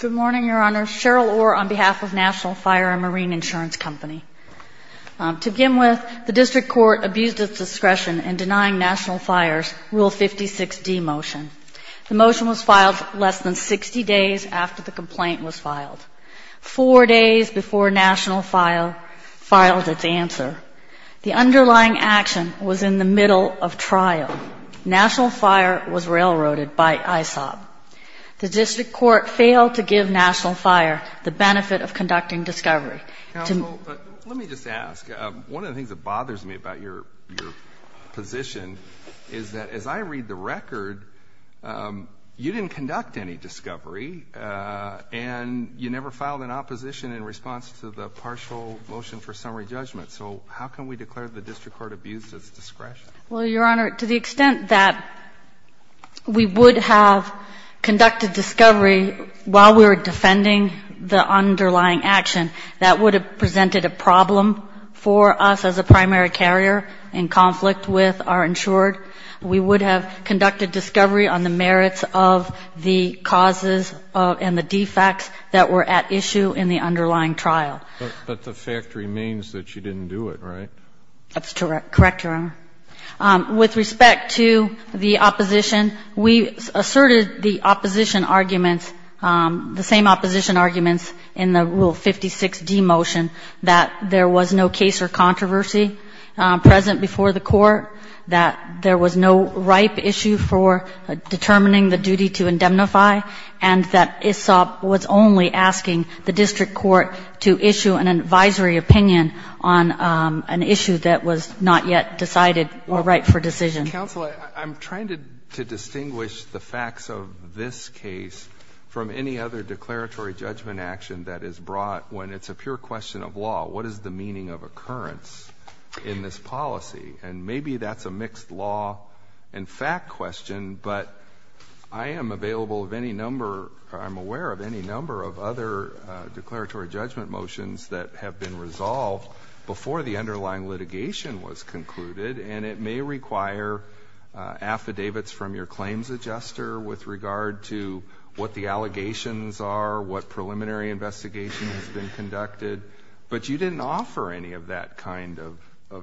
Good morning, Your Honor. Cheryl Orr on behalf of Nat'l Fire & Marine Insurance Company. To begin with, the District Court abused its discretion in denying Nat'l Fire's Rule 56D motion. The motion was filed less than 60 days after the complaint was filed, four days before Nat'l Fire filed its answer. The underlying action was in the middle of trial. Nat'l Fire was railroaded by ISOP. The District Court failed to give Nat'l Fire the benefit of conducting discovery. Counsel, let me just ask. One of the things that bothers me about your position is that as I read the record, you didn't conduct any discovery, and you never filed an opposition in response to the partial motion for summary judgment. So how can we declare the District Court abused its discretion? Well, Your Honor, to the extent that we would have conducted discovery while we were defending the underlying action, that would have presented a problem for us as a primary carrier in conflict with our insured. We would have conducted discovery on the merits of the causes and the defects that were at issue in the underlying trial. But the fact remains that you didn't do it, right? That's correct, Your Honor. With respect to the opposition, we asserted the opposition arguments, the same opposition arguments in the Rule 56d motion, that there was no case or controversy present before the Court, that there was no ripe issue for determining the duty to indemnify, and that ISOP was only asking the District Court to issue an advisory opinion on an issue that was not yet decided or ripe for decision. Counsel, I'm trying to distinguish the facts of this case from any other declaratory judgment action that is brought when it's a pure question of law. What is the meaning of occurrence in this policy? And maybe that's a mixed law and fact question, but I am available of any number or I'm aware of any number of other declaratory judgment motions that have been resolved before the underlying litigation was concluded, and it may require affidavits from your claims adjuster with regard to what the allegations are, what preliminary investigation has been conducted. But you didn't offer any of that kind of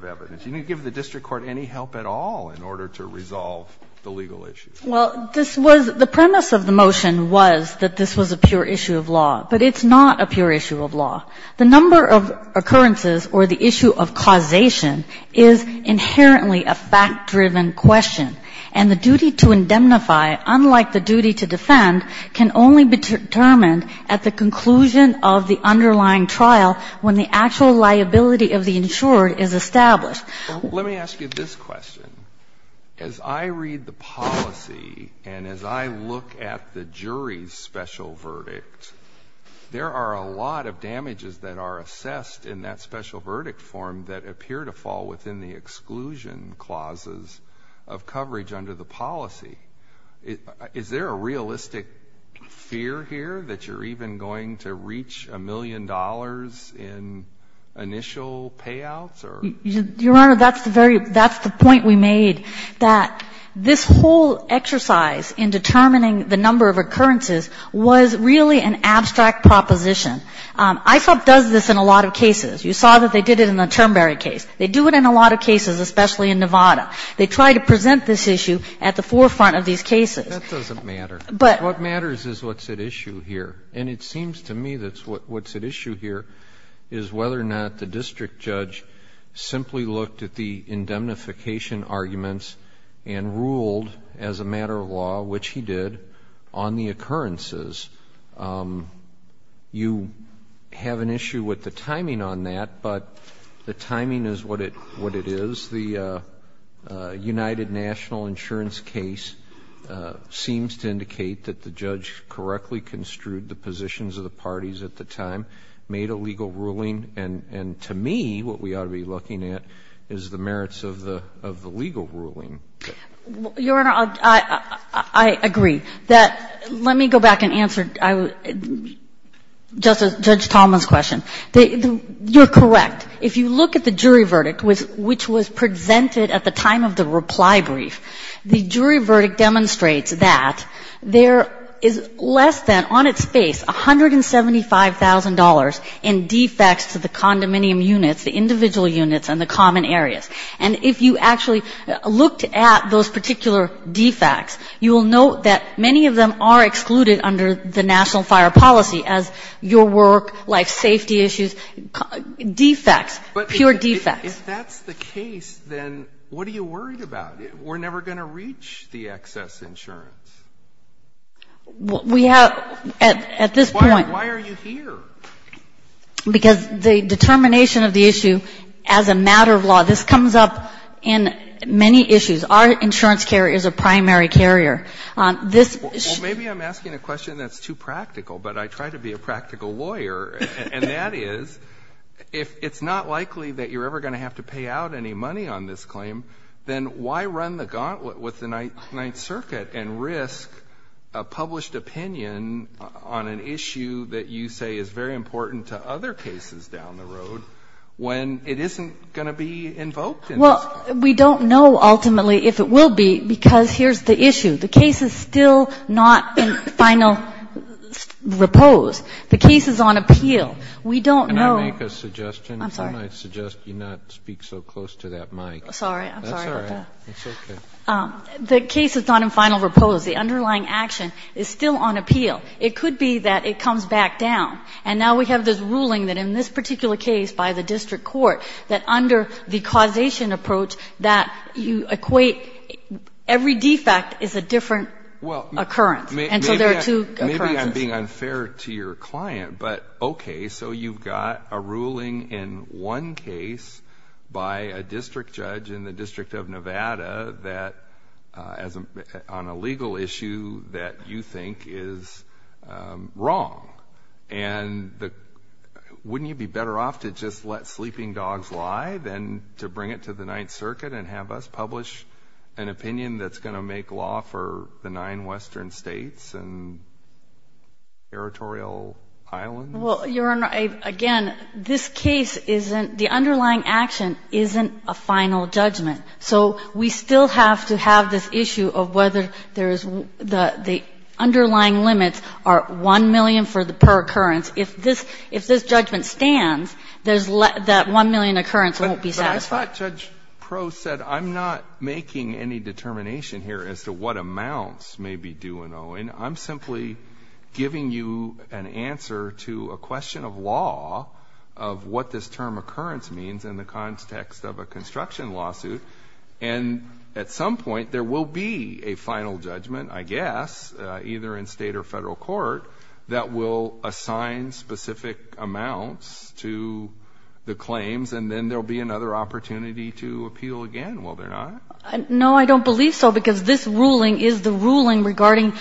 evidence. You didn't give the District Court any help at all in order to resolve the legal issue. Well, this was the premise of the motion was that this was a pure issue of law, but it's not a pure issue of law. The number of occurrences or the issue of causation is inherently a fact-driven question, and the duty to indemnify, unlike the duty to defend, can only be determined at the conclusion of the underlying trial when the actual liability of the insured is established. Well, let me ask you this question. As I read the policy and as I look at the jury's special verdict, there are a lot of damages that are assessed in that special verdict form that appear to fall within the exclusion clauses of coverage under the policy. Is there a realistic fear here that you're even going to reach a million dollars in initial payouts or? Your Honor, that's the very — that's the point we made, that this whole exercise in this case was really an abstract proposition. ISOP does this in a lot of cases. You saw that they did it in the Turnberry case. They do it in a lot of cases, especially in Nevada. They try to present this issue at the forefront of these cases. That doesn't matter. But — What matters is what's at issue here. And it seems to me that what's at issue here is whether or not the district judge simply looked at the indemnification arguments and ruled as a matter of law, which he did, on the occurrences. You have an issue with the timing on that, but the timing is what it is. The United National Insurance case seems to indicate that the judge correctly construed the positions of the parties at the time, made a legal ruling. And to me, what we ought to be looking at is the merits of the legal ruling. Your Honor, I agree. Let me go back and answer Judge Tallman's question. You're correct. If you look at the jury verdict, which was presented at the time of the reply brief, the jury verdict demonstrates that there is less than, on its face, $175,000 in defects to the condominium units, the individual units and the common areas. And if you actually looked at those particular defects, you will note that many of them are excluded under the national fire policy as your work, like safety issues, defects, pure defects. But if that's the case, then what are you worried about? We're never going to reach the excess insurance. We have at this point Why are you here? Because the determination of the issue as a matter of law, this comes up in many issues. Our insurance carrier is a primary carrier. Well, maybe I'm asking a question that's too practical, but I try to be a practical lawyer. And that is, if it's not likely that you're ever going to have to pay out any money on this claim, then why run the gauntlet with the Ninth Circuit and risk a published opinion on an issue that you say is very important to other cases down the road when it isn't going to be invoked? Well, we don't know ultimately if it will be, because here's the issue. The case is still not in final repose. The case is on appeal. We don't know Can I make a suggestion? I'm sorry. Can I suggest you not speak so close to that mic? Sorry. I'm sorry about that. That's all right. It's okay. The case is not in final repose. The underlying action is still on appeal. It could be that it comes back down. And now we have this ruling that in this particular case by the district court, that under the causation approach that you equate every defect is a different occurrence. And so there are two occurrences. I'm being unfair to your client, but okay, so you've got a ruling in one case by a district judge in the District of Nevada that on a legal issue that you think is wrong. And wouldn't you be better off to just let sleeping dogs lie than to bring it to the Ninth Circuit and have us publish an opinion that's going to make nine Western states and territorial islands? Well, Your Honor, again, this case isn't the underlying action isn't a final judgment. So we still have to have this issue of whether there is the underlying limits are 1 million per occurrence. If this judgment stands, that 1 million occurrence won't be satisfied. I thought Judge Proe said, I'm not making any determination here as to what amounts may be due in Owen. I'm simply giving you an answer to a question of law of what this term occurrence means in the context of a construction lawsuit. And at some point there will be a final judgment, I guess, either in state or federal court that will assign specific amounts to the claims. And then there'll be another opportunity to appeal again, will there not? No, I don't believe so, because this ruling is the ruling regarding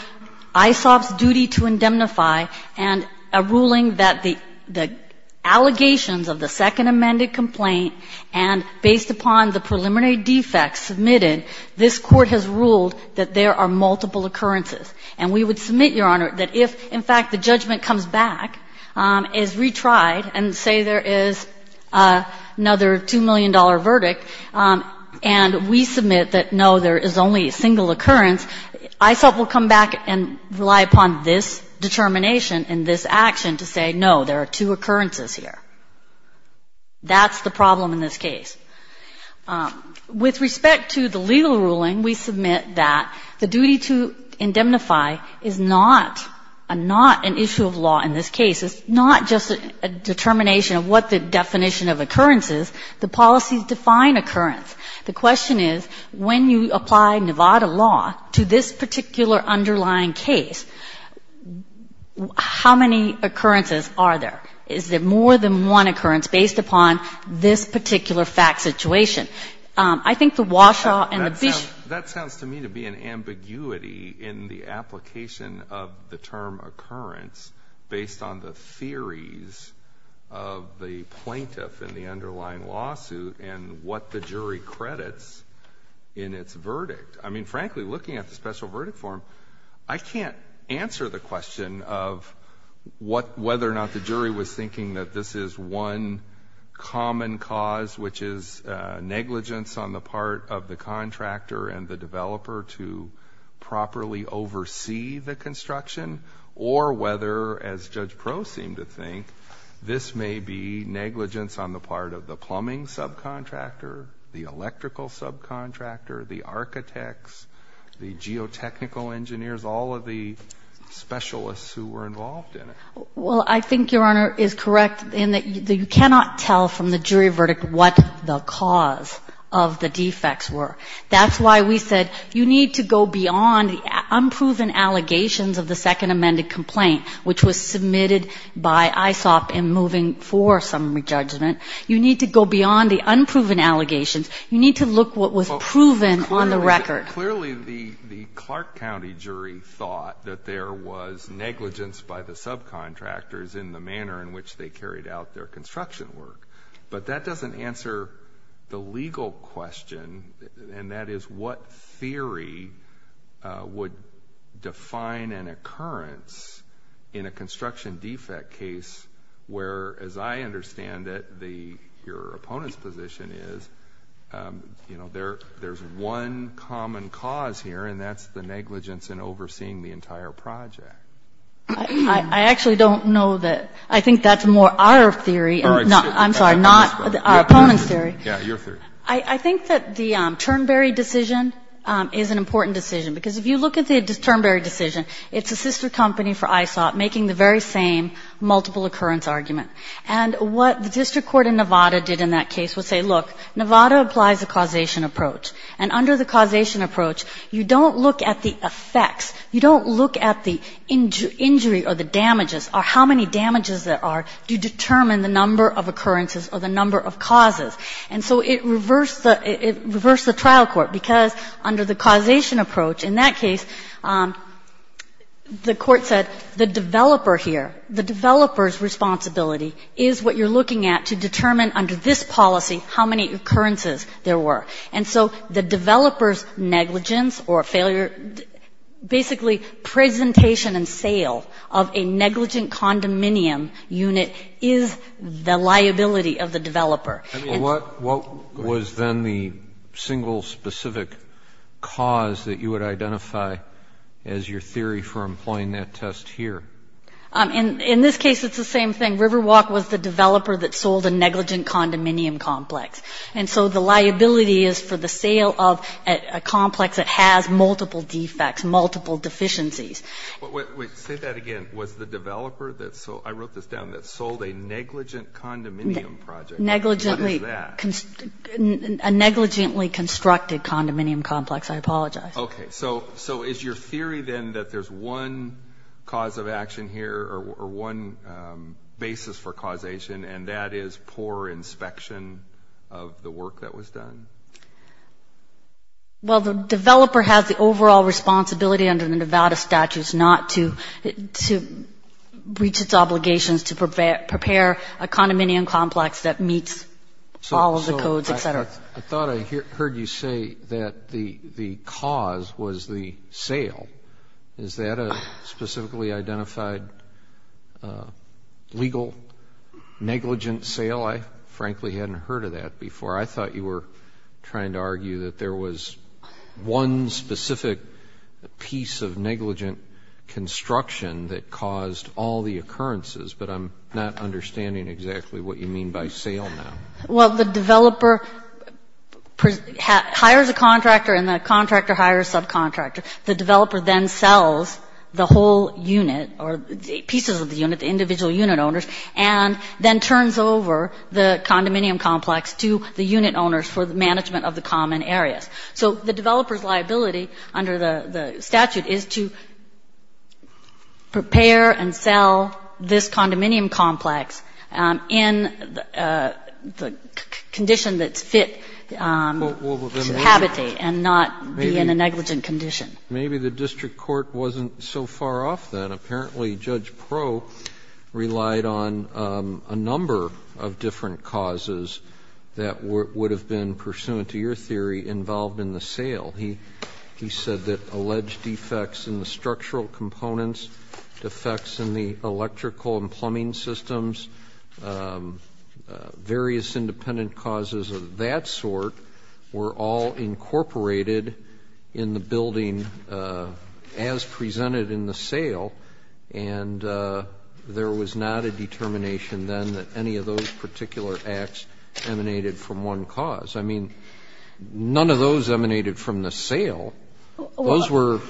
ISOP's duty to indemnify and a ruling that the allegations of the second amended complaint and based upon the preliminary defects submitted, this Court has ruled that there are multiple occurrences. And we would submit, Your Honor, that if, in fact, the judgment comes back as retried and say there is another $2 million verdict, and we submit that, no, there is only a single occurrence, ISOP will come back and rely upon this determination and this action to say, no, there are two occurrences here. That's the problem in this case. With respect to the legal ruling, we submit that the duty to indemnify is not a not an issue of law in this case. It's not just a determination of what the definition of occurrence is. The policies define occurrence. The question is, when you apply Nevada law to this particular underlying case, how many occurrences are there? Is there more than one occurrence based upon this particular fact situation? I think the Walshaw and the Bishop ---- based on the theories of the plaintiff in the underlying lawsuit and what the jury credits in its verdict. I mean, frankly, looking at the special verdict form, I can't answer the question of whether or not the jury was thinking that this is one common cause, which is negligence on the part of the contractor and the developer to properly oversee the construction, or whether, as Judge Proh seemed to think, this may be negligence on the part of the plumbing subcontractor, the electrical subcontractor, the architects, the geotechnical engineers, all of the specialists who were involved in it. Well, I think Your Honor is correct in that you cannot tell from the jury verdict what the cause of the defects were. That's why we said you need to go beyond the unproven allegations of the second amended complaint, which was submitted by ISOP and moving for some re-judgment. You need to go beyond the unproven allegations. You need to look what was proven on the record. Clearly the Clark County jury thought that there was negligence by the subcontractors in the manner in which they carried out their construction work. But that doesn't answer the legal question, and that is what theory would define an occurrence in a construction defect case where, as I understand it, your opponent's position is there's one common cause here, and that's the negligence in overseeing the entire project. I actually don't know that. I think that's more our theory. I'm sorry, not our opponent's theory. Yeah, your theory. I think that the Turnberry decision is an important decision. Because if you look at the Turnberry decision, it's a sister company for ISOP making the very same multiple occurrence argument. And what the district court in Nevada did in that case was say, look, Nevada applies a causation approach, and under the causation approach, you don't look at the effects. You don't look at the injury or the damages or how many damages there are to determine the number of occurrences or the number of causes. And so it reversed the trial court, because under the causation approach in that case, the court said the developer here, the developer's responsibility is what you're looking at to determine under this policy how many occurrences there were. And so the developer's negligence or failure, basically presentation and sale of a negligent condominium unit is the liability of the developer. What was then the single specific cause that you would identify as your theory for employing that test here? In this case, it's the same thing. Riverwalk was the developer that sold a negligent condominium complex. And so the liability is for the sale of a complex that has multiple defects, multiple deficiencies. Wait, say that again. Was the developer that sold, I wrote this down, that sold a negligent condominium project? Negligently. What is that? A negligently constructed condominium complex. I apologize. Okay. So is your theory then that there's one cause of action here or one basis for causation, and that is poor inspection of the work that was done? Well, the developer has the overall responsibility under the Nevada statutes not to reach its obligations to prepare a condominium complex that meets all of the codes, et cetera. I thought I heard you say that the cause was the sale. Is that a specifically identified legal negligent sale? I frankly hadn't heard of that before. I thought you were trying to argue that there was one specific piece of negligent construction that caused all the occurrences, but I'm not understanding exactly what you mean by sale now. Well, the developer hires a contractor and the contractor hires a subcontractor. The developer then sells the whole unit or pieces of the unit, the individual unit owners, and then turns over the condominium complex to the unit owners for the management of the common areas. So the developer's liability under the statute is to prepare and sell this condominium complex in the condition that's fit to habitate and not be in a negligent condition. Maybe the district court wasn't so far off then. Apparently Judge Proe relied on a number of different causes that would have been, pursuant to your theory, involved in the sale. He said that alleged defects in the structural components, defects in the electrical and plumbing systems, various independent causes of that sort, were all incorporated in the building as presented in the sale, and there was not a determination then that any of those particular acts emanated from one cause. I mean, none of those emanated from the sale. Those were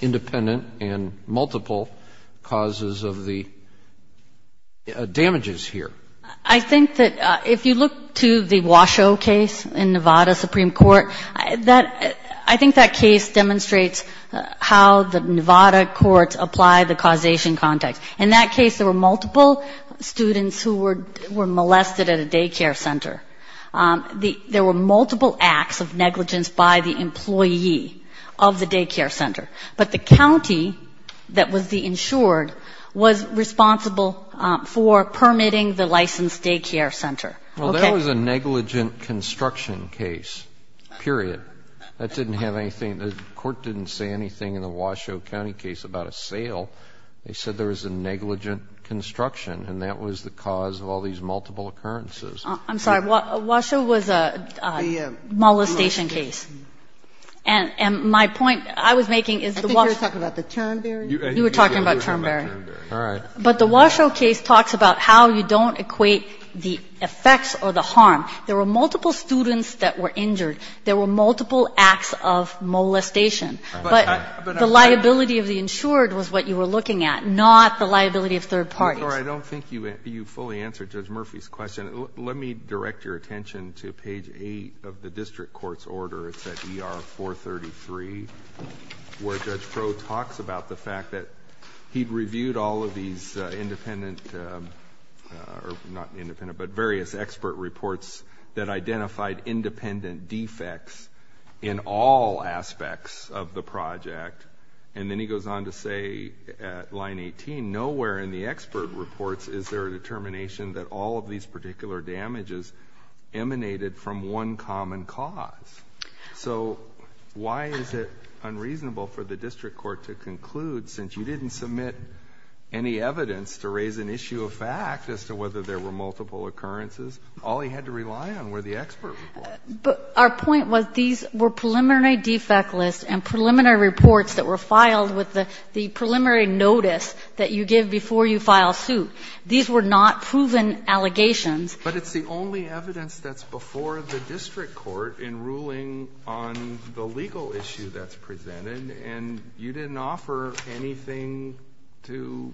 independent and multiple causes of the damages here. I think that if you look to the Washoe case in Nevada Supreme Court, I think that case demonstrates how the Nevada courts apply the causation context. In that case, there were multiple students who were molested at a daycare center. There were multiple acts of negligence by the employee of the daycare center. But the county that was the insured was responsible for permitting the licensed daycare center. Well, that was a negligent construction case, period. That didn't have anything. The court didn't say anything in the Washoe County case about a sale. They said there was a negligent construction, and that was the cause of all these multiple occurrences. I'm sorry. Washoe was a molestation case. And my point I was making is the Washoe. I think you were talking about the Turnberry. You were talking about Turnberry. All right. But the Washoe case talks about how you don't equate the effects or the harm. There were multiple students that were injured. There were multiple acts of molestation. But the liability of the insured was what you were looking at, not the liability of third parties. I'm sorry. I don't think you fully answered Judge Murphy's question. Let me direct your attention to page 8 of the district court's order. It's at ER 433, where Judge Crowe talks about the fact that he'd reviewed all of these independent... or not independent, but various expert reports that identified independent defects in all aspects of the project. And then he goes on to say at line 18, nowhere in the expert reports is there a determination that all of these particular damages emanated from one common cause. So why is it unreasonable for the district court to conclude, since you didn't submit any evidence to raise an issue of fact as to whether there were multiple occurrences, all he had to rely on were the expert reports? But our point was these were preliminary defect lists and preliminary reports that were filed with the preliminary notice that you give before you file suit. These were not proven allegations. But it's the only evidence that's before the district court in ruling on the legal issue that's presented, and you didn't offer anything to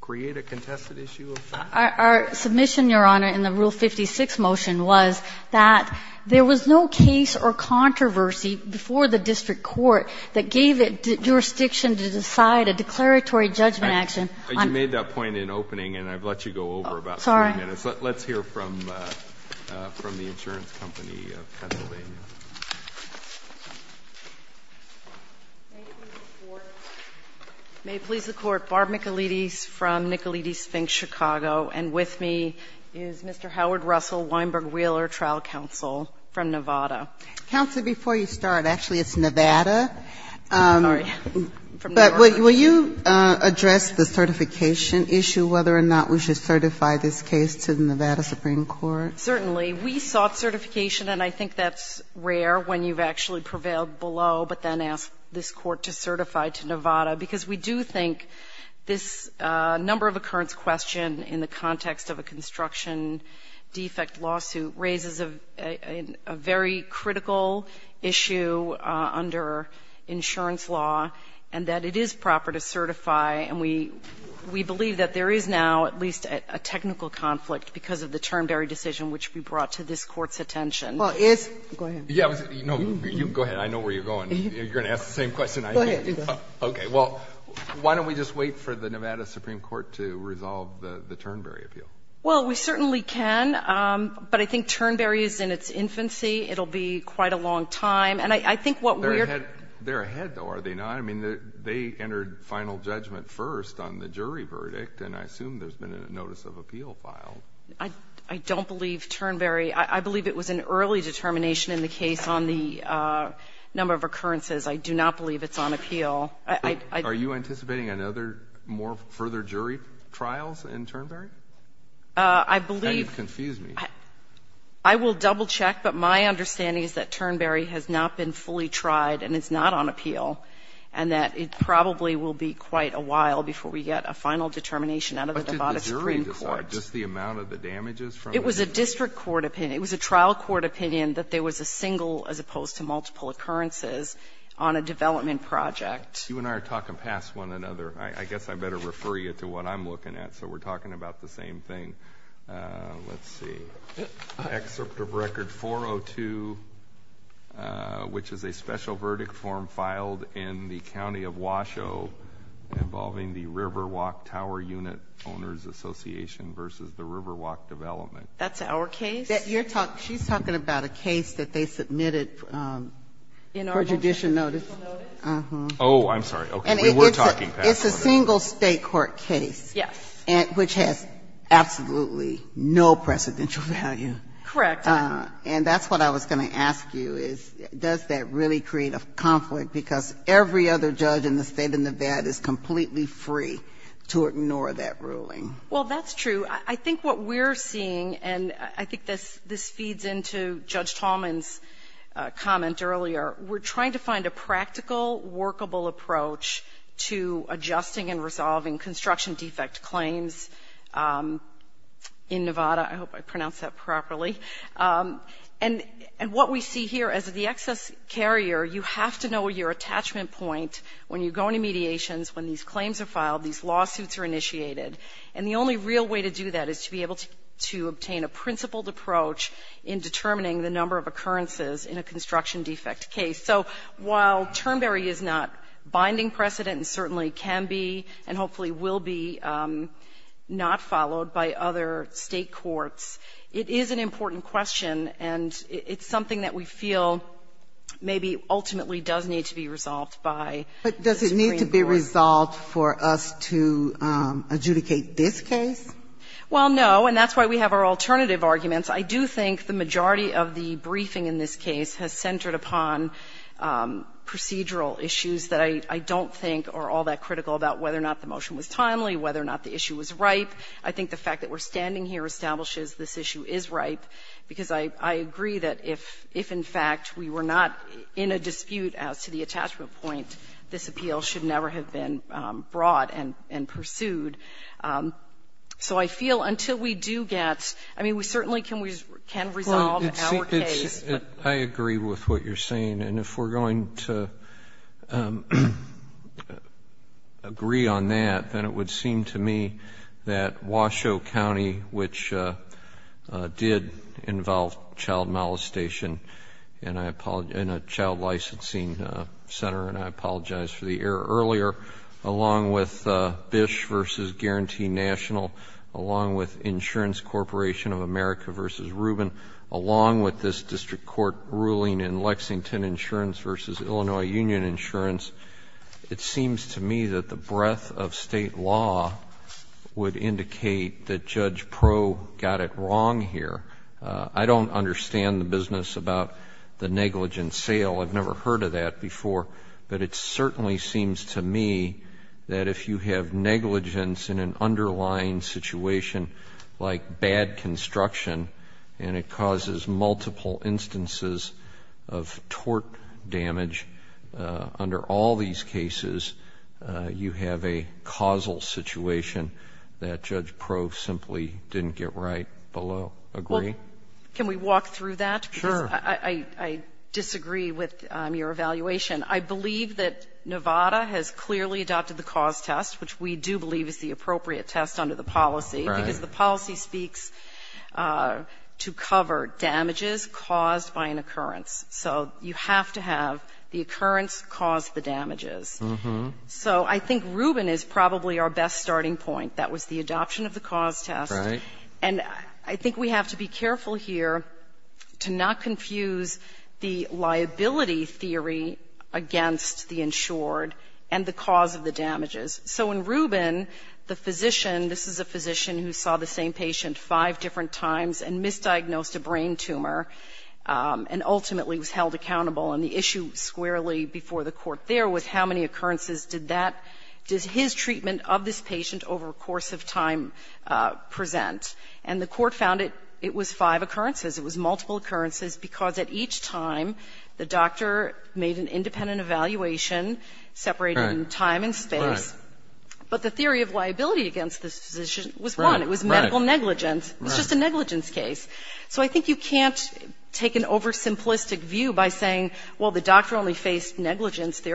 create a contested issue of fact? Our submission, Your Honor, in the Rule 56 motion was that there was no case or controversy before the district court that gave it jurisdiction to decide a declaratory judgment action on... You made that point in opening, and I've let you go over about 3 minutes. Sorry. Let's hear from the insurance company of Pennsylvania. May it please the Court, Barb Michelides from Michelides Sphinx, Chicago, and with me is Mr. Howard Russell, Weinberg Wheeler Trial Counsel from Nevada. Counsel, before you start, actually, it's Nevada. I'm sorry. But will you address the certification issue, whether or not we should certify this case to the Nevada Supreme Court? Certainly. We sought certification, and I think that's rare, when you've actually prevailed below, but then asked this Court to certify to Nevada. Because we do think this number of occurrence question in the context of a construction defect lawsuit raises a very critical issue under insurance law, and that it is proper to certify. And we believe that there is now at least a technical conflict because of the term barrier decision which we brought to this Court's attention. Well, is go ahead. No, you go ahead. I know where you're going. You're going to ask the same question. Go ahead. You go. Okay. Well, why don't we just wait for the Nevada Supreme Court to resolve the term barrier appeal? Well, we certainly can, but I think term barrier is in its infancy. It will be quite a long time. And I think what we're. They're ahead, though, are they not? I mean, they entered final judgment first on the jury verdict, and I assume there's been a notice of appeal filed. I don't believe term barrier. I believe it was an early determination in the case on the number of occurrences. I do not believe it's on appeal. Are you anticipating another more further jury trials in term barrier? I believe. And you've confused me. I will double check, but my understanding is that term barrier has not been fully tried and it's not on appeal, and that it probably will be quite a while before we get a final determination out of the Nevada Supreme Court. Just the amount of the damages from it? It was a district court opinion. It was a trial court opinion that there was a single as opposed to multiple occurrences on a development project. You and I are talking past one another. I guess I better refer you to what I'm looking at, so we're talking about the same thing. Let's see. Excerpt of record 402, which is a special verdict form filed in the county of Washoe involving the Riverwalk Tower Unit Owners Association versus the Riverwalk Development. That's our case? She's talking about a case that they submitted for judicial notice. Oh, I'm sorry. Okay. We were talking past notice. It's a single state court case. Yes. Which has absolutely no precedential value. Correct. And that's what I was going to ask you is does that really create a conflict because every other judge in the State of Nevada is completely free to ignore that ruling? Well, that's true. I think what we're seeing, and I think this feeds into Judge Tallman's comment earlier. We're trying to find a practical, workable approach to adjusting and resolving construction defect claims in Nevada. I hope I pronounced that properly. And what we see here as the excess carrier, you have to know your attachment point when you go into mediations, when these claims are filed, these lawsuits are initiated. And the only real way to do that is to be able to obtain a principled approach in determining the number of occurrences in a construction defect case. So while Turnberry is not binding precedent and certainly can be and hopefully will be not followed by other State courts, it is an important question and it's something that we feel maybe ultimately does need to be resolved by the Supreme Court. But does it need to be resolved for us to adjudicate this case? Well, no. And that's why we have our alternative arguments. I do think the majority of the briefing in this case has centered upon procedural issues that I don't think are all that critical about whether or not the motion was timely, whether or not the issue was ripe. I think the fact that we're standing here establishes this issue is ripe, because I agree that if in fact we were not in a dispute as to the attachment point, this appeal should never have been brought and pursued. So I feel until we do get, I mean, we certainly can resolve our case. I agree with what you're saying, and if we're going to agree on that, then it would seem to me that Washoe County, which did involve child molestation in a child licensing center, and I apologize for the error earlier, along with Bish v. Guarantee National, along with Insurance Corporation of America v. Rubin, along with this district court ruling in Lexington Insurance v. Illinois Union Insurance, it seems to me that the breadth of State law would indicate that Judge Proe got it wrong here. I don't understand the business about the negligence sale. I've never heard of that before, but it certainly seems to me that if you have that construction and it causes multiple instances of tort damage under all these cases, you have a causal situation that Judge Proe simply didn't get right below. Agree? Well, can we walk through that? Sure. I disagree with your evaluation. I believe that Nevada has clearly adopted the cause test, which we do believe is the appropriate test under the policy, because the policy speaks to cover damages caused by an occurrence. So you have to have the occurrence cause the damages. So I think Rubin is probably our best starting point. That was the adoption of the cause test. Right. And I think we have to be careful here to not confuse the liability theory against the insured and the cause of the damages. So in Rubin, the physician, this is a physician who saw the same patient five different times and misdiagnosed a brain tumor and ultimately was held accountable. And the issue squarely before the Court there was how many occurrences did that, does his treatment of this patient over a course of time present. And the Court found it was five occurrences. It was multiple occurrences, because at each time the doctor made an independent evaluation separated in time and space. But the theory of liability against this physician was one. It was medical negligence. It was just a negligence case. So I think you can't take an oversimplistic view by saying, well, the doctor only did it five times. That's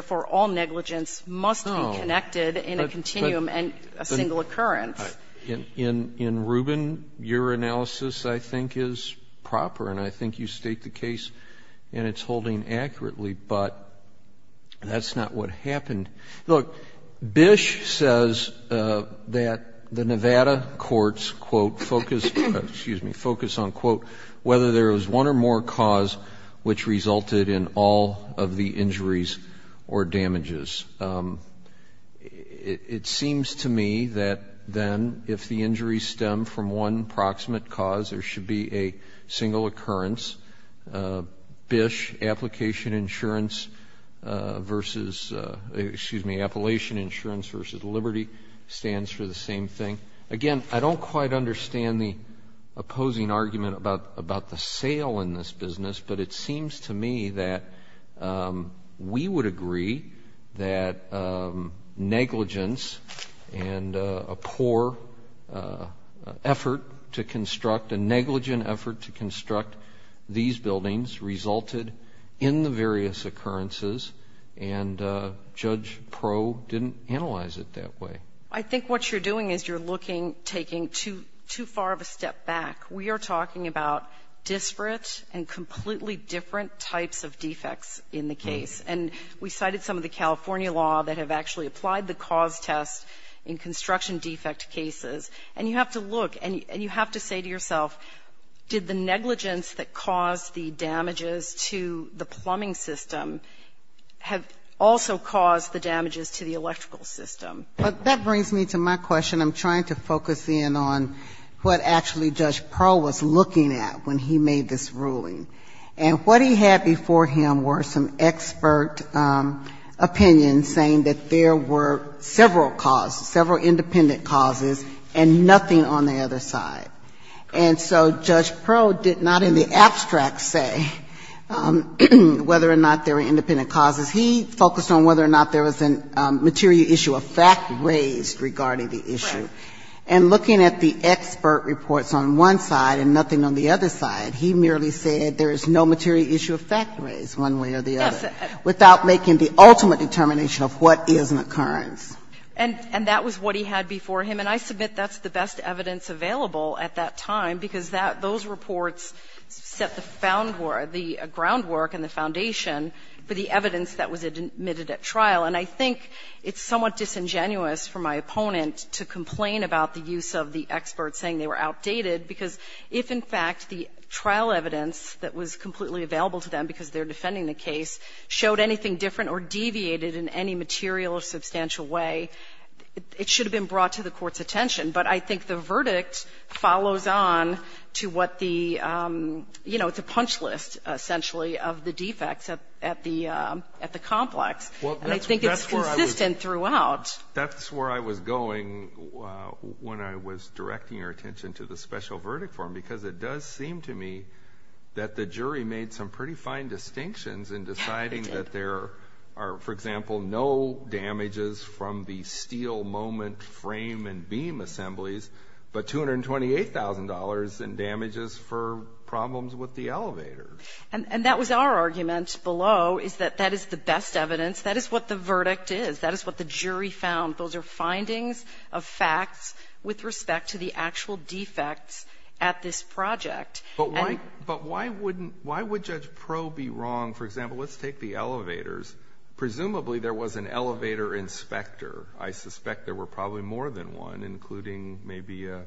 not what happened. Look, Bish says that the Nevada courts, quote, focus on, quote, whether there was one or more cause which resulted in all of the injuries or damages. It seems to me that then if the injuries stem from one proximate cause, there should be a single occurrence. Bish, application insurance versus, excuse me, Appalachian Insurance versus Liberty stands for the same thing. Again, I don't quite understand the opposing argument about the sale in this business, but it seems to me that we would agree that negligence and a poor effort to construct these buildings resulted in the various occurrences, and Judge Proe didn't analyze it that way. I think what you're doing is you're looking, taking too far of a step back. We are talking about disparate and completely different types of defects in the case. And we cited some of the California law that have actually applied the cause test in construction defect cases. And you have to look and you have to say to yourself, did the negligence that caused the damages to the plumbing system have also caused the damages to the electrical system? But that brings me to my question. I'm trying to focus in on what actually Judge Proe was looking at when he made this ruling. And what he had before him were some expert opinions saying that there were several causes, several independent causes, and nothing on the other side. And so Judge Proe did not in the abstract say whether or not there were independent causes. He focused on whether or not there was a material issue of fact raised regarding the issue. And looking at the expert reports on one side and nothing on the other side, he merely said there is no material issue of fact raised one way or the other without making the ultimate determination of what is an occurrence. And that was what he had before him. And I submit that's the best evidence available at that time, because that those reports set the groundwork and the foundation for the evidence that was admitted at trial. And I think it's somewhat disingenuous for my opponent to complain about the use of the experts saying they were outdated, because if, in fact, the trial evidence that was completely available to them because they're defending the case showed anything different or deviated in any material or substantial way, it should have been brought to the Court's attention. But I think the verdict follows on to what the, you know, it's a punch list, essentially, of the defects at the complex. And I think it's consistent throughout. That's where I was going when I was directing your attention to the special verdict form, because it does seem to me that the jury made some pretty fine distinctions in deciding that there are, for example, no damages from the steel moment frame and beam assemblies, but $228,000 in damages for problems with the elevator. And that was our argument below, is that that is the best evidence. That is what the verdict is. That is what the jury found. Those are findings of facts with respect to the actual defects at this project. But why would Judge Proe be wrong? For example, let's take the elevators. Presumably, there was an elevator inspector. I suspect there were probably more than one, including maybe a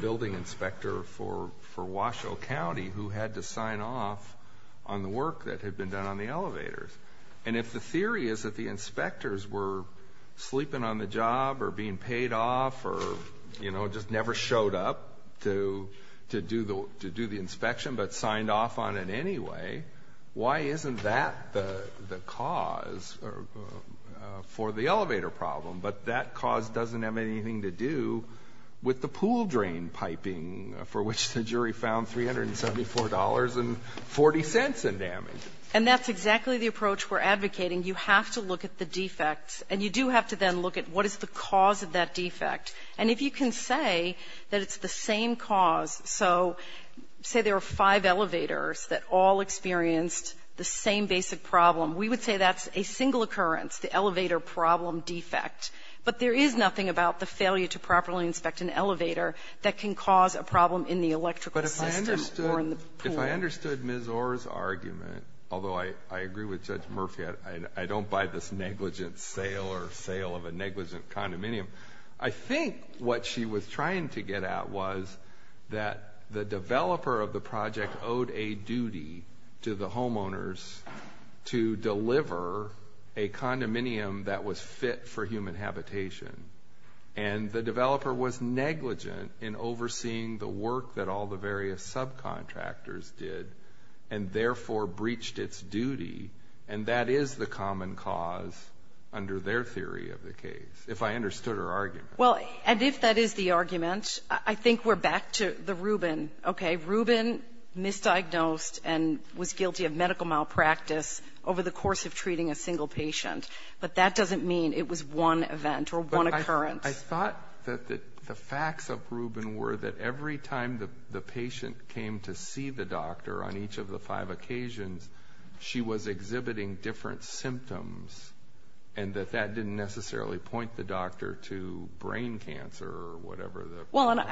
building inspector for Washoe County who had to sign off on the work that had been done on the elevators. And if the theory is that the inspectors were sleeping on the job or being paid off or, you know, just never showed up to do the inspection but signed off on it anyway, why isn't that the cause for the elevator problem? But that cause doesn't have anything to do with the pool drain piping, for which the jury found $374.40 in damages. And that's exactly the approach we're advocating. You have to look at the defects. And you do have to then look at what is the cause of that defect. And if you can say that it's the same cause, so say there were five elevators that all experienced the same basic problem, we would say that's a single occurrence, the elevator problem defect. But there is nothing about the failure to properly inspect an elevator that can cause a problem in the electrical system or in the pool. If I understood Ms. Orr's argument, although I agree with Judge Murphy, I don't buy this negligent sale or sale of a negligent condominium. I think what she was trying to get at was that the developer of the project owed a duty to the homeowners to deliver a condominium that was fit for human habitation. And the developer was negligent in overseeing the work that all the various subcontractors did and therefore breached its duty. And that is the common cause under their theory of the case, if I understood her argument. Well, and if that is the argument, I think we're back to the Rubin. Okay, Rubin misdiagnosed and was guilty of medical malpractice over the course of treating a single patient. But that doesn't mean it was one event or one occurrence. I thought that the facts of Rubin were that every time the patient came to see the doctor on each of the five occasions, she was exhibiting different symptoms and that that didn't necessarily point the doctor to brain cancer or whatever. Well, and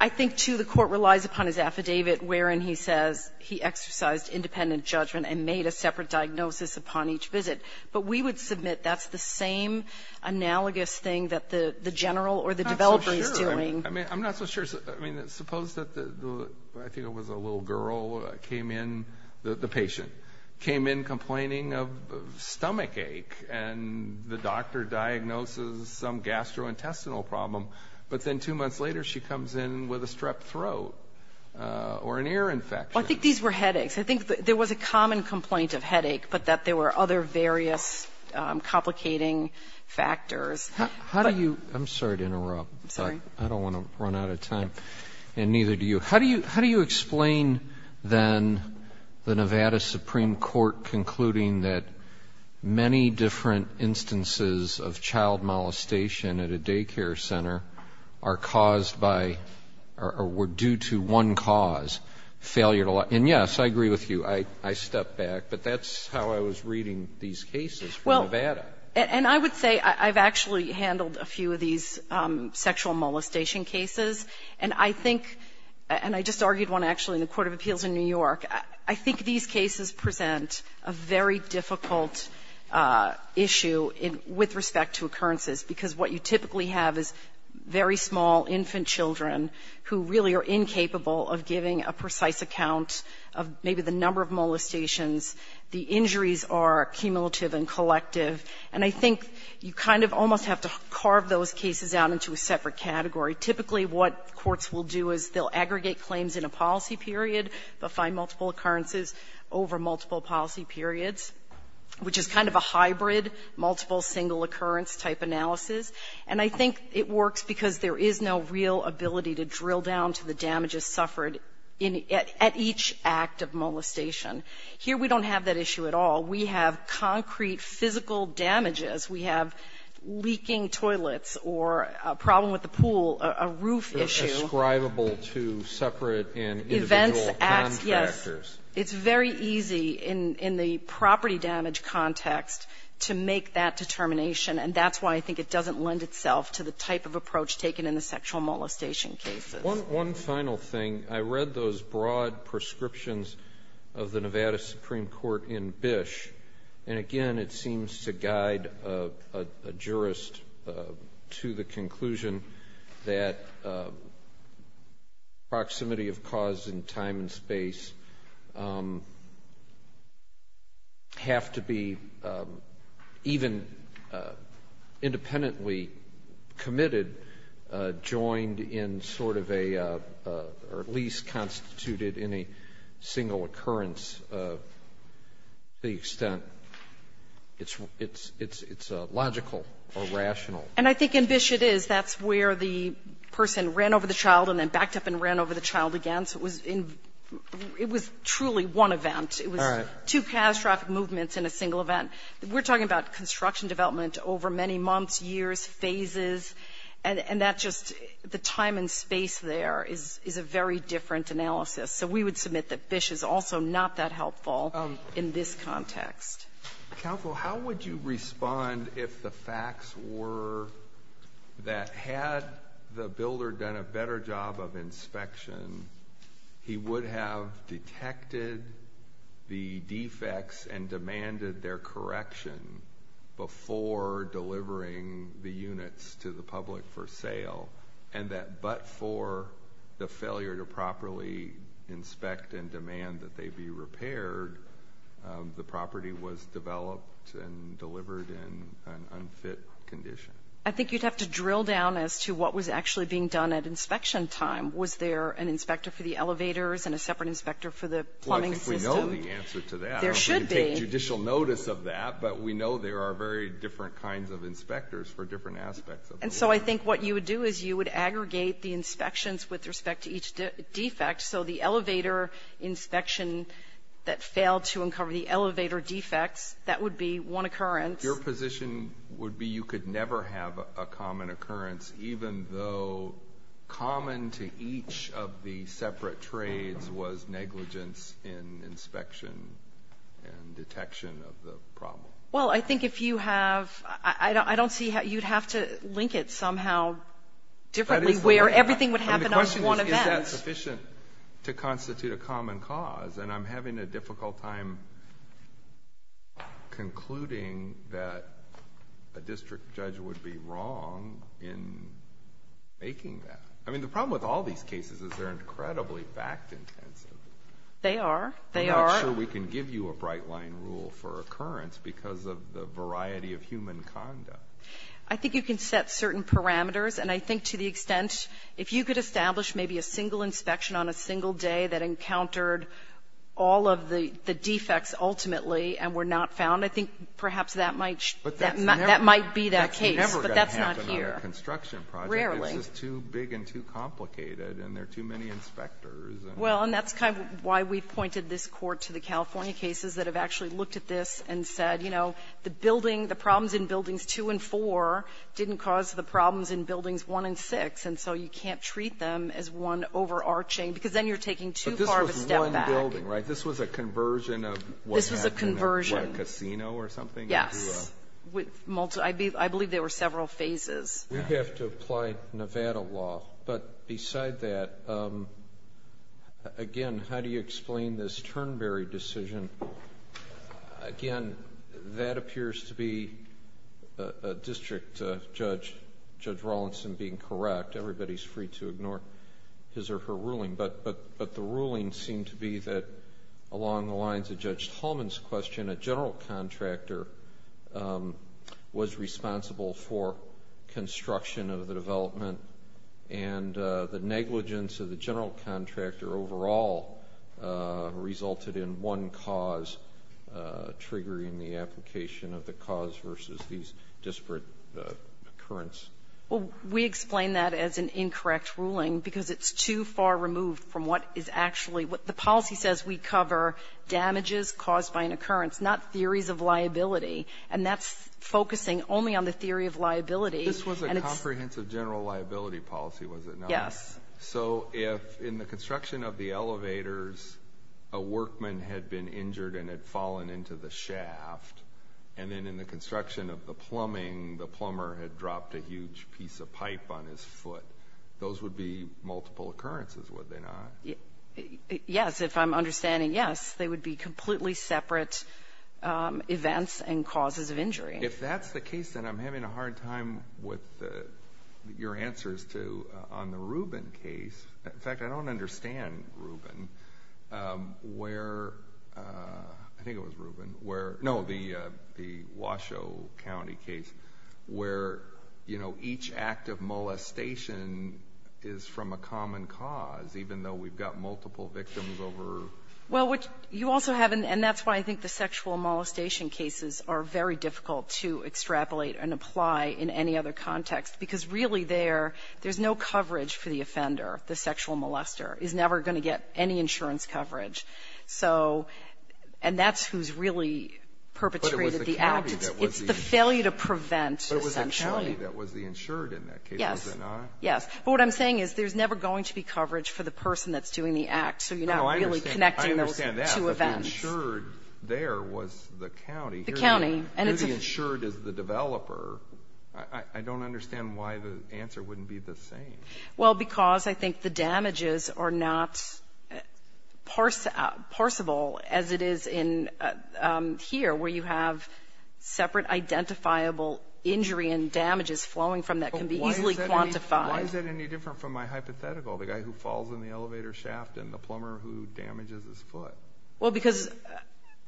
I think, too, the court relies upon his affidavit wherein he says he exercised independent judgment and made a separate diagnosis upon each visit. But we would submit that's the same analogous thing that the general or the developer is doing. I'm not so sure. I mean, suppose that I think it was a little girl came in, the patient, came in complaining of stomach ache and the doctor diagnoses some gastrointestinal problem, but then two months later she comes in with a strep throat or an ear infection. Well, I think these were headaches. I think there was a common complaint of headache, but that there were other various complicating factors. How do you ‑‑ I'm sorry to interrupt. Sorry. I don't want to run out of time, and neither do you. How do you explain then the Nevada Supreme Court concluding that many different instances of child molestation at a daycare center are caused by or were due to one cause, failure to ‑‑ And yes, I agree with you. I step back. But that's how I was reading these cases from Nevada. Well, and I would say I've actually handled a few of these sexual molestation cases, and I think ‑‑ and I just argued one actually in the court of appeals in New York. I think these cases present a very difficult issue with respect to occurrences, because what you typically have is very small infant children who really are incapable of giving a precise account of maybe the number of molestations. The injuries are cumulative and collective. And I think you kind of almost have to carve those cases out into a separate category. Typically, what courts will do is they'll aggregate claims in a policy period, but find multiple occurrences over multiple policy periods, which is kind of a hybrid multiple single occurrence type analysis. And I think it works because there is no real ability to drill down to the damages suffered at each act of molestation. Here we don't have that issue at all. We have concrete physical damages. We have leaking toilets or a problem with the pool, a roof issue. It's describable to separate and individual contractors. Events, acts, yes. It's very easy in the property damage context to make that determination, and that's why I think it doesn't lend itself to the type of approach taken in the sexual molestation cases. One final thing. I read those broad prescriptions of the Nevada Supreme Court in Bish, and again it seems to guide a jurist to the conclusion that proximity of cause and time and space have to be even independently committed, joined in sort of a or at least constituted in a single occurrence to the extent it's logical or rational. And I think in Bish it is. That's where the person ran over the child and then backed up and ran over the child again. So it was truly one event. It was two catastrophic movements in a single event. We're talking about construction development over many months, years, phases, and that's just the time and space there is a very different analysis. So we would submit that Bish is also not that helpful in this context. Counsel, how would you respond if the facts were that had the builder done a better job of inspection, he would have detected the defects and demanded their correction before delivering the units to the public for sale, and that but for the failure to properly inspect and demand that they be repaired, the property was developed and delivered in an unfit condition? I think you'd have to drill down as to what was actually being done at inspection time. Was there an inspector for the elevators and a separate inspector for the plumbing system? Well, I think we know the answer to that. There should be. We didn't take judicial notice of that, but we know there are very different kinds of inspectors for different aspects of the building. And so I think what you would do is you would aggregate the inspections with respect to each defect, so the elevator inspection that failed to uncover the elevator defects, that would be one occurrence. Your position would be you could never have a common occurrence, even though common to each of the separate trades was negligence in inspection and detection of the problem. Well, I think if you have – I don't see – you'd have to link it somehow differently, where everything would happen on one event. Is that sufficient to constitute a common cause? And I'm having a difficult time concluding that a district judge would be wrong in making that. I mean, the problem with all these cases is they're incredibly fact-intensive. They are. They are. I'm not sure we can give you a bright-line rule for occurrence because of the variety of human conduct. I think you can set certain parameters, and I think to the extent if you could establish maybe a single inspection on a single day that encountered all of the defects ultimately and were not found, I think perhaps that might be that case. But that's not here. But that's never going to happen in a construction project. Rarely. It's just too big and too complicated, and there are too many inspectors. Well, and that's kind of why we pointed this Court to the California cases that have actually looked at this and said, you know, the building, the problems in buildings two and four didn't cause the problems in buildings one and six, and so you can't treat them as one overarching. Because then you're taking too far of a step back. But this was one building, right? This was a conversion of what was happening in a casino or something? Yes. I believe there were several phases. We have to apply Nevada law. But beside that, again, how do you explain this Turnberry decision? Again, that appears to be a district judge, Judge Rawlinson, being correct. Everybody's free to ignore his or her ruling. But the ruling seemed to be that along the lines of Judge Tallman's question, a general contractor was responsible for construction of the development, and the negligence of the general contractor overall resulted in one cause triggering the application of the cause versus these disparate occurrence. Well, we explain that as an incorrect ruling because it's too far removed from what is actually what the policy says we cover, damages caused by an occurrence, not theories of liability. And that's focusing only on the theory of liability. This was a comprehensive general liability policy, was it not? Yes. So if in the construction of the elevators a workman had been injured and had fallen into the shaft, and then in the construction of the plumbing the plumber had dropped a huge piece of pipe on his foot, those would be multiple occurrences, would they not? Yes, if I'm understanding yes. They would be completely separate events and causes of injury. If that's the case, then I'm having a hard time with your answers on the Rubin case. In fact, I don't understand Rubin where the Washoe County case, where each act of molestation is from a common cause, even though we've got multiple victims over. Well, what you also have, and that's why I think the sexual molestation cases are very difficult to extrapolate and apply in any other context, because really there, there's no coverage for the offender, the sexual molester, is never going to get any insurance coverage. So, and that's who's really perpetrated the act. It's the failure to prevent, essentially. But it was the county that was the insured in that case, was it not? Yes. But what I'm saying is there's never going to be coverage for the person that's doing the act, so you're not really connecting those two events. No, I understand that. But the insured there was the county. The county. Here the insured is the developer. I don't understand why the answer wouldn't be the same. Well, because I think the damages are not parsable as it is in here, where you have separate identifiable injury and damages flowing from that can be easily quantified. Why is that any different from my hypothetical, the guy who falls in the elevator shaft and the plumber who damages his foot? Well, because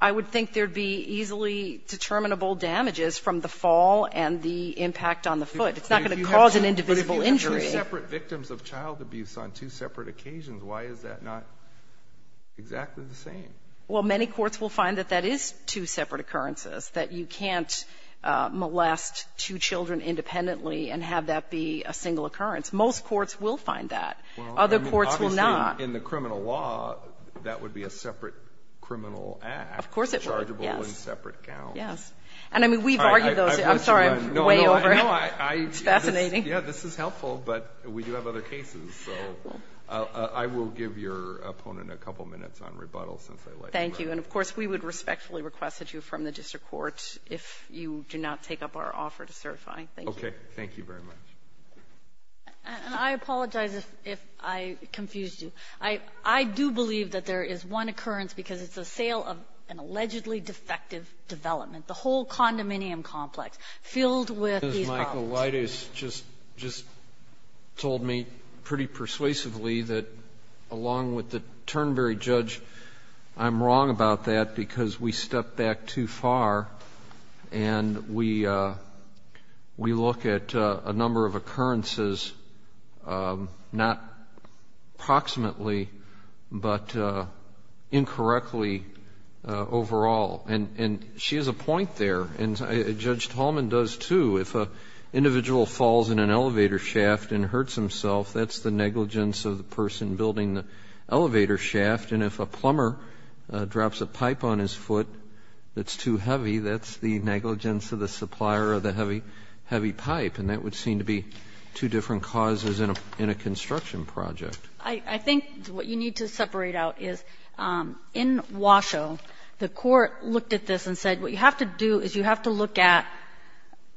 I would think there would be easily determinable damages from the fall and the impact on the foot. It's not going to cause an indivisible injury. But if you have two separate victims of child abuse on two separate occasions, why is that not exactly the same? Well, many courts will find that that is two separate occurrences, that you can't molest two children independently and have that be a single occurrence. Most courts will find that. Other courts will not. In the criminal law, that would be a separate criminal act. Of course it would, yes. Chargeable in separate counts. Yes. And, I mean, we've argued those. I'm sorry, I'm way over. No, no, no. It's fascinating. Yeah, this is helpful, but we do have other cases. So I will give your opponent a couple minutes on rebuttals. Thank you. And, of course, we would respectfully request that you affirm the district court if you do not take up our offer to certify. Thank you. Okay. Thank you very much. And I apologize if I confused you. I do believe that there is one occurrence, because it's a sale of an allegedly defective development, the whole condominium complex filled with these properties. Justice Michael Leidas just told me pretty persuasively that, along with the Turnberry judge, I'm wrong about that because we stepped back too far and we look at a number of occurrences, not proximately, but incorrectly overall. And she has a point there, and Judge Tallman does too. If an individual falls in an elevator shaft and hurts himself, that's the negligence of the person building the elevator shaft. And if a plumber drops a pipe on his foot that's too heavy, that's the negligence of the supplier of the heavy pipe. And that would seem to be two different causes in a construction project. I think what you need to separate out is in Washoe, the court looked at this and said what you have to do is you have to look at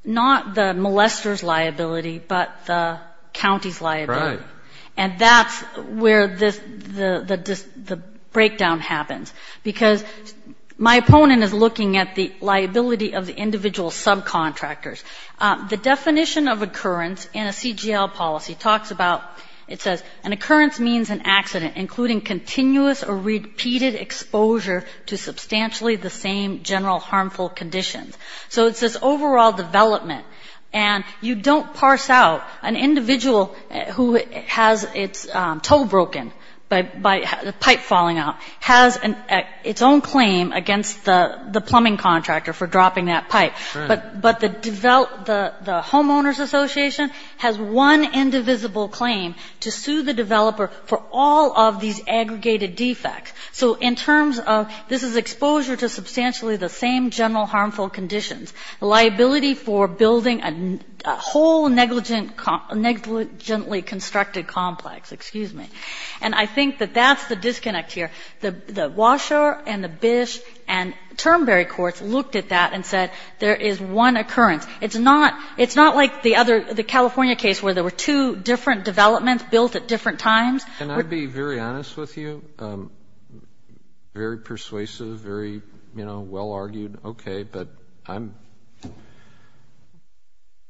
not the molester's liability, but the county's liability. And that's where the breakdown happens. Because my opponent is looking at the liability of the individual subcontractors. The definition of occurrence in a CGL policy talks about, it says, an occurrence means an accident, including continuous or repeated exposure to substantially the same general harmful conditions. So it's this overall development. And you don't parse out an individual who has its toe broken by the pipe falling out, has its own claim against the plumbing contractor for dropping that pipe. But the homeowners association has one indivisible claim to sue the developer for all of these aggregated defects. So in terms of this is exposure to substantially the same general harmful conditions, liability for building a whole negligently constructed complex, excuse me. And I think that that's the disconnect here. The Washoe and the Bish and Turnberry courts looked at that and said there is one occurrence. It's not like the other, the California case where there were two different developments built at different times. Can I be very honest with you? Very persuasive, very, you know, well-argued. Okay, but I'm a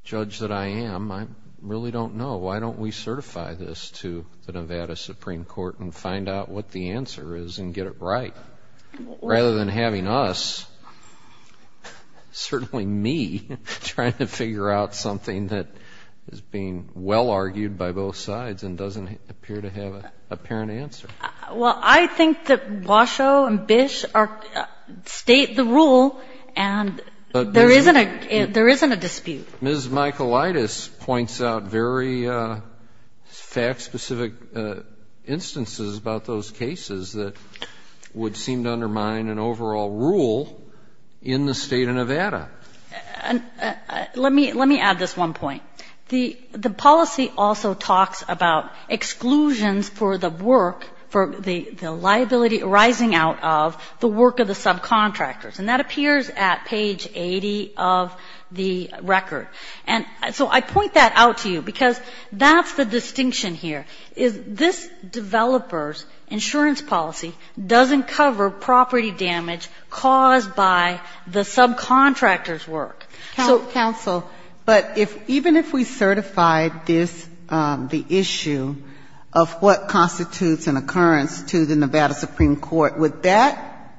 judge that I am. I really don't know. Why don't we certify this to the Nevada Supreme Court and find out what the answer is and get it right? Rather than having us, certainly me, trying to figure out something that is being well-argued by both sides and doesn't appear to have an apparent answer. Well, I think that Washoe and Bish state the rule and there isn't a dispute. Ms. Michaelitis points out very fact-specific instances about those cases that would seem to undermine an overall rule in the State of Nevada. Let me add this one point. The policy also talks about exclusions for the work, for the liability arising out of the work of the subcontractors. And that appears at page 80 of the record. And so I point that out to you because that's the distinction here, is this developer's insurance policy doesn't cover property damage caused by the subcontractor's work. Sotomayor, but even if we certify this, the issue of what constitutes an occurrence to the Nevada Supreme Court, would that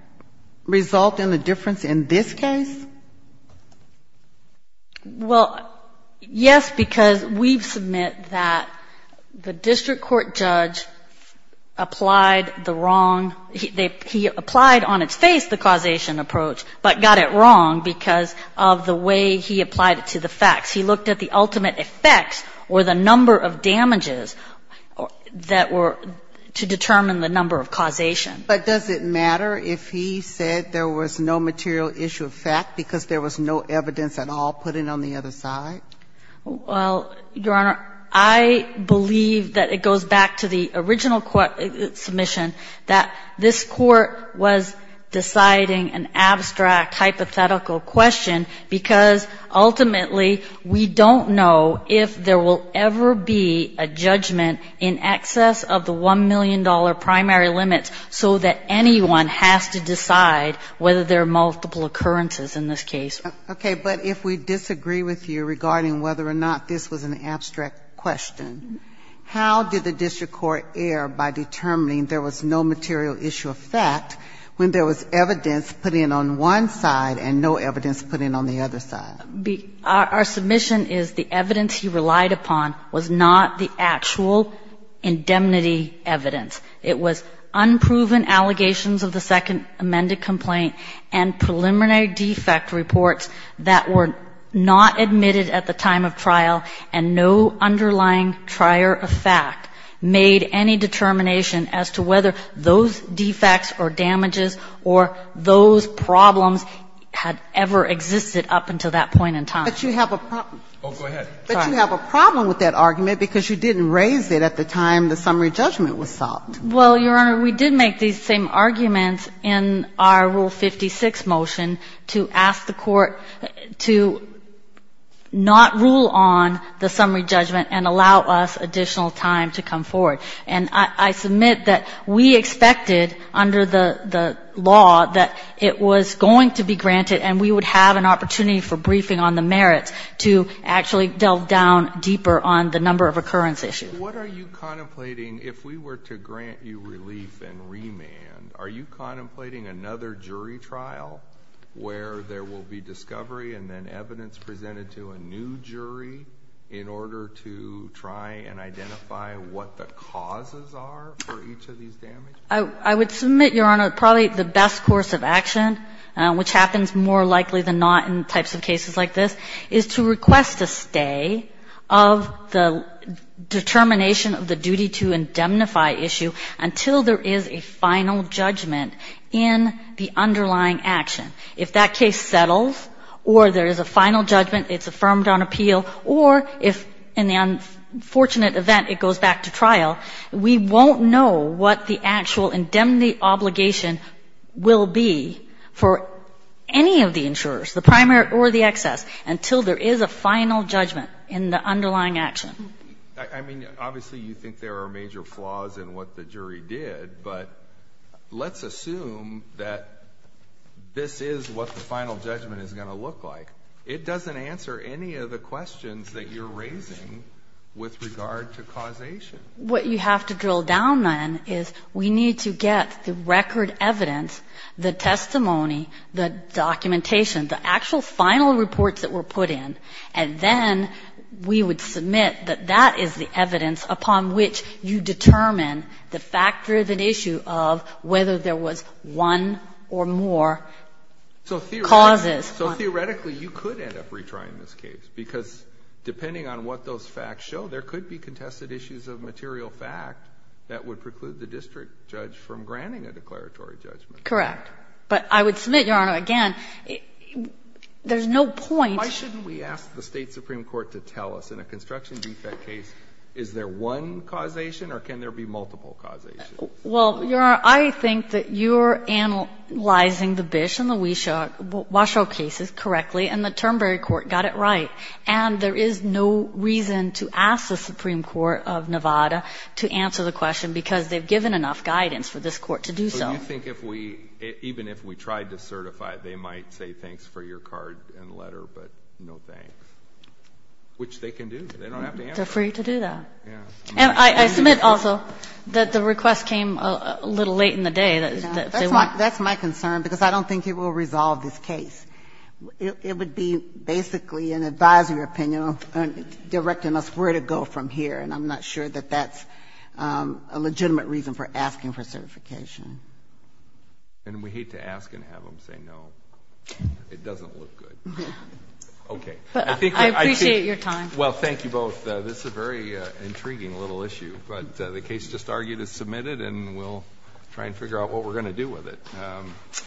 result in a difference in this case? Well, yes, because we've submit that the district court judge applied the wrong he applied on its face the causation approach, but got it wrong because of the way he applied it to the facts. He looked at the ultimate effects or the number of damages that were to determine the number of causation. But does it matter if he said there was no material issue of fact because there was no evidence at all put in on the other side? Well, Your Honor, I believe that it goes back to the original court submission that this court was deciding an abstract hypothetical question because ultimately we don't know if there will ever be a judgment in excess of the $1 million primary limits so that anyone has to decide whether there are multiple occurrences in this case. Okay. But if we disagree with you regarding whether or not this was an abstract question, how did the district court err by determining there was no material issue of fact when there was evidence put in on one side and no evidence put in on the other side? Our submission is the evidence he relied upon was not the actual indemnity evidence. It was unproven allegations of the second amended complaint and preliminary defect reports that were not admitted at the time of trial and no underlying trier of fact made any determination as to whether those defects or damages or those problems had ever existed up until that point in time. But you have a problem with that argument because you didn't raise it at the time the summary judgment was solved. Well, Your Honor, we did make these same arguments in our Rule 56 motion to ask the court to not rule on the summary judgment and allow us additional time to come forward. And I submit that we expected under the law that it was going to be granted and we would have an opportunity for briefing on the merits to actually delve down deeper on the number of occurrence issue. But what are you contemplating, if we were to grant you relief and remand, are you contemplating another jury trial where there will be discovery and then evidence presented to a new jury in order to try and identify what the causes are for each of these damages? I would submit, Your Honor, probably the best course of action, which happens more likely than not in types of cases like this, is to request a stay of the determination of the duty to indemnify issue until there is a final judgment in the underlying action. If that case settles or there is a final judgment, it's affirmed on appeal, or if in the unfortunate event it goes back to trial, we won't know what the actual indemnity obligation will be for any of the insurers, the primary or the excess, until there is a final judgment in the underlying action. I mean, obviously you think there are major flaws in what the jury did, but let's assume that this is what the final judgment is going to look like. It doesn't answer any of the questions that you're raising with regard to causation. What you have to drill down, then, is we need to get the record evidence, the testimony, the documentation, the actual final reports that were put in, and then we would submit that that is the evidence upon which you determine the fact-driven issue of whether there was one or more causes. So theoretically, you could end up retrying this case, because depending on what those facts show, there could be contested issues of material fact that would preclude the district judge from granting a declaratory judgment. Correct. But I would submit, Your Honor, again, there's no point. Why shouldn't we ask the State supreme court to tell us, in a construction defect case, is there one causation or can there be multiple causations? Well, Your Honor, I think that you're analyzing the Bish and the Washoe cases correctly, and the Turnberry court got it right. And there is no reason to ask the supreme court of Nevada to answer the question, because they've given enough guidance for this court to do so. So you think if we, even if we tried to certify, they might say thanks for your card and letter, but no thanks, which they can do. They don't have to answer. They're free to do that. And I submit also that the request came a little late in the day. That's my concern, because I don't think it will resolve this case. It would be basically an advisory opinion directing us where to go from here. And I'm not sure that that's a legitimate reason for asking for certification. And we hate to ask and have them say no. It doesn't look good. Okay. I appreciate your time. Well, thank you both. This is a very intriguing little issue. But the case just argued is submitted, and we'll try and figure out what we're going to do with it.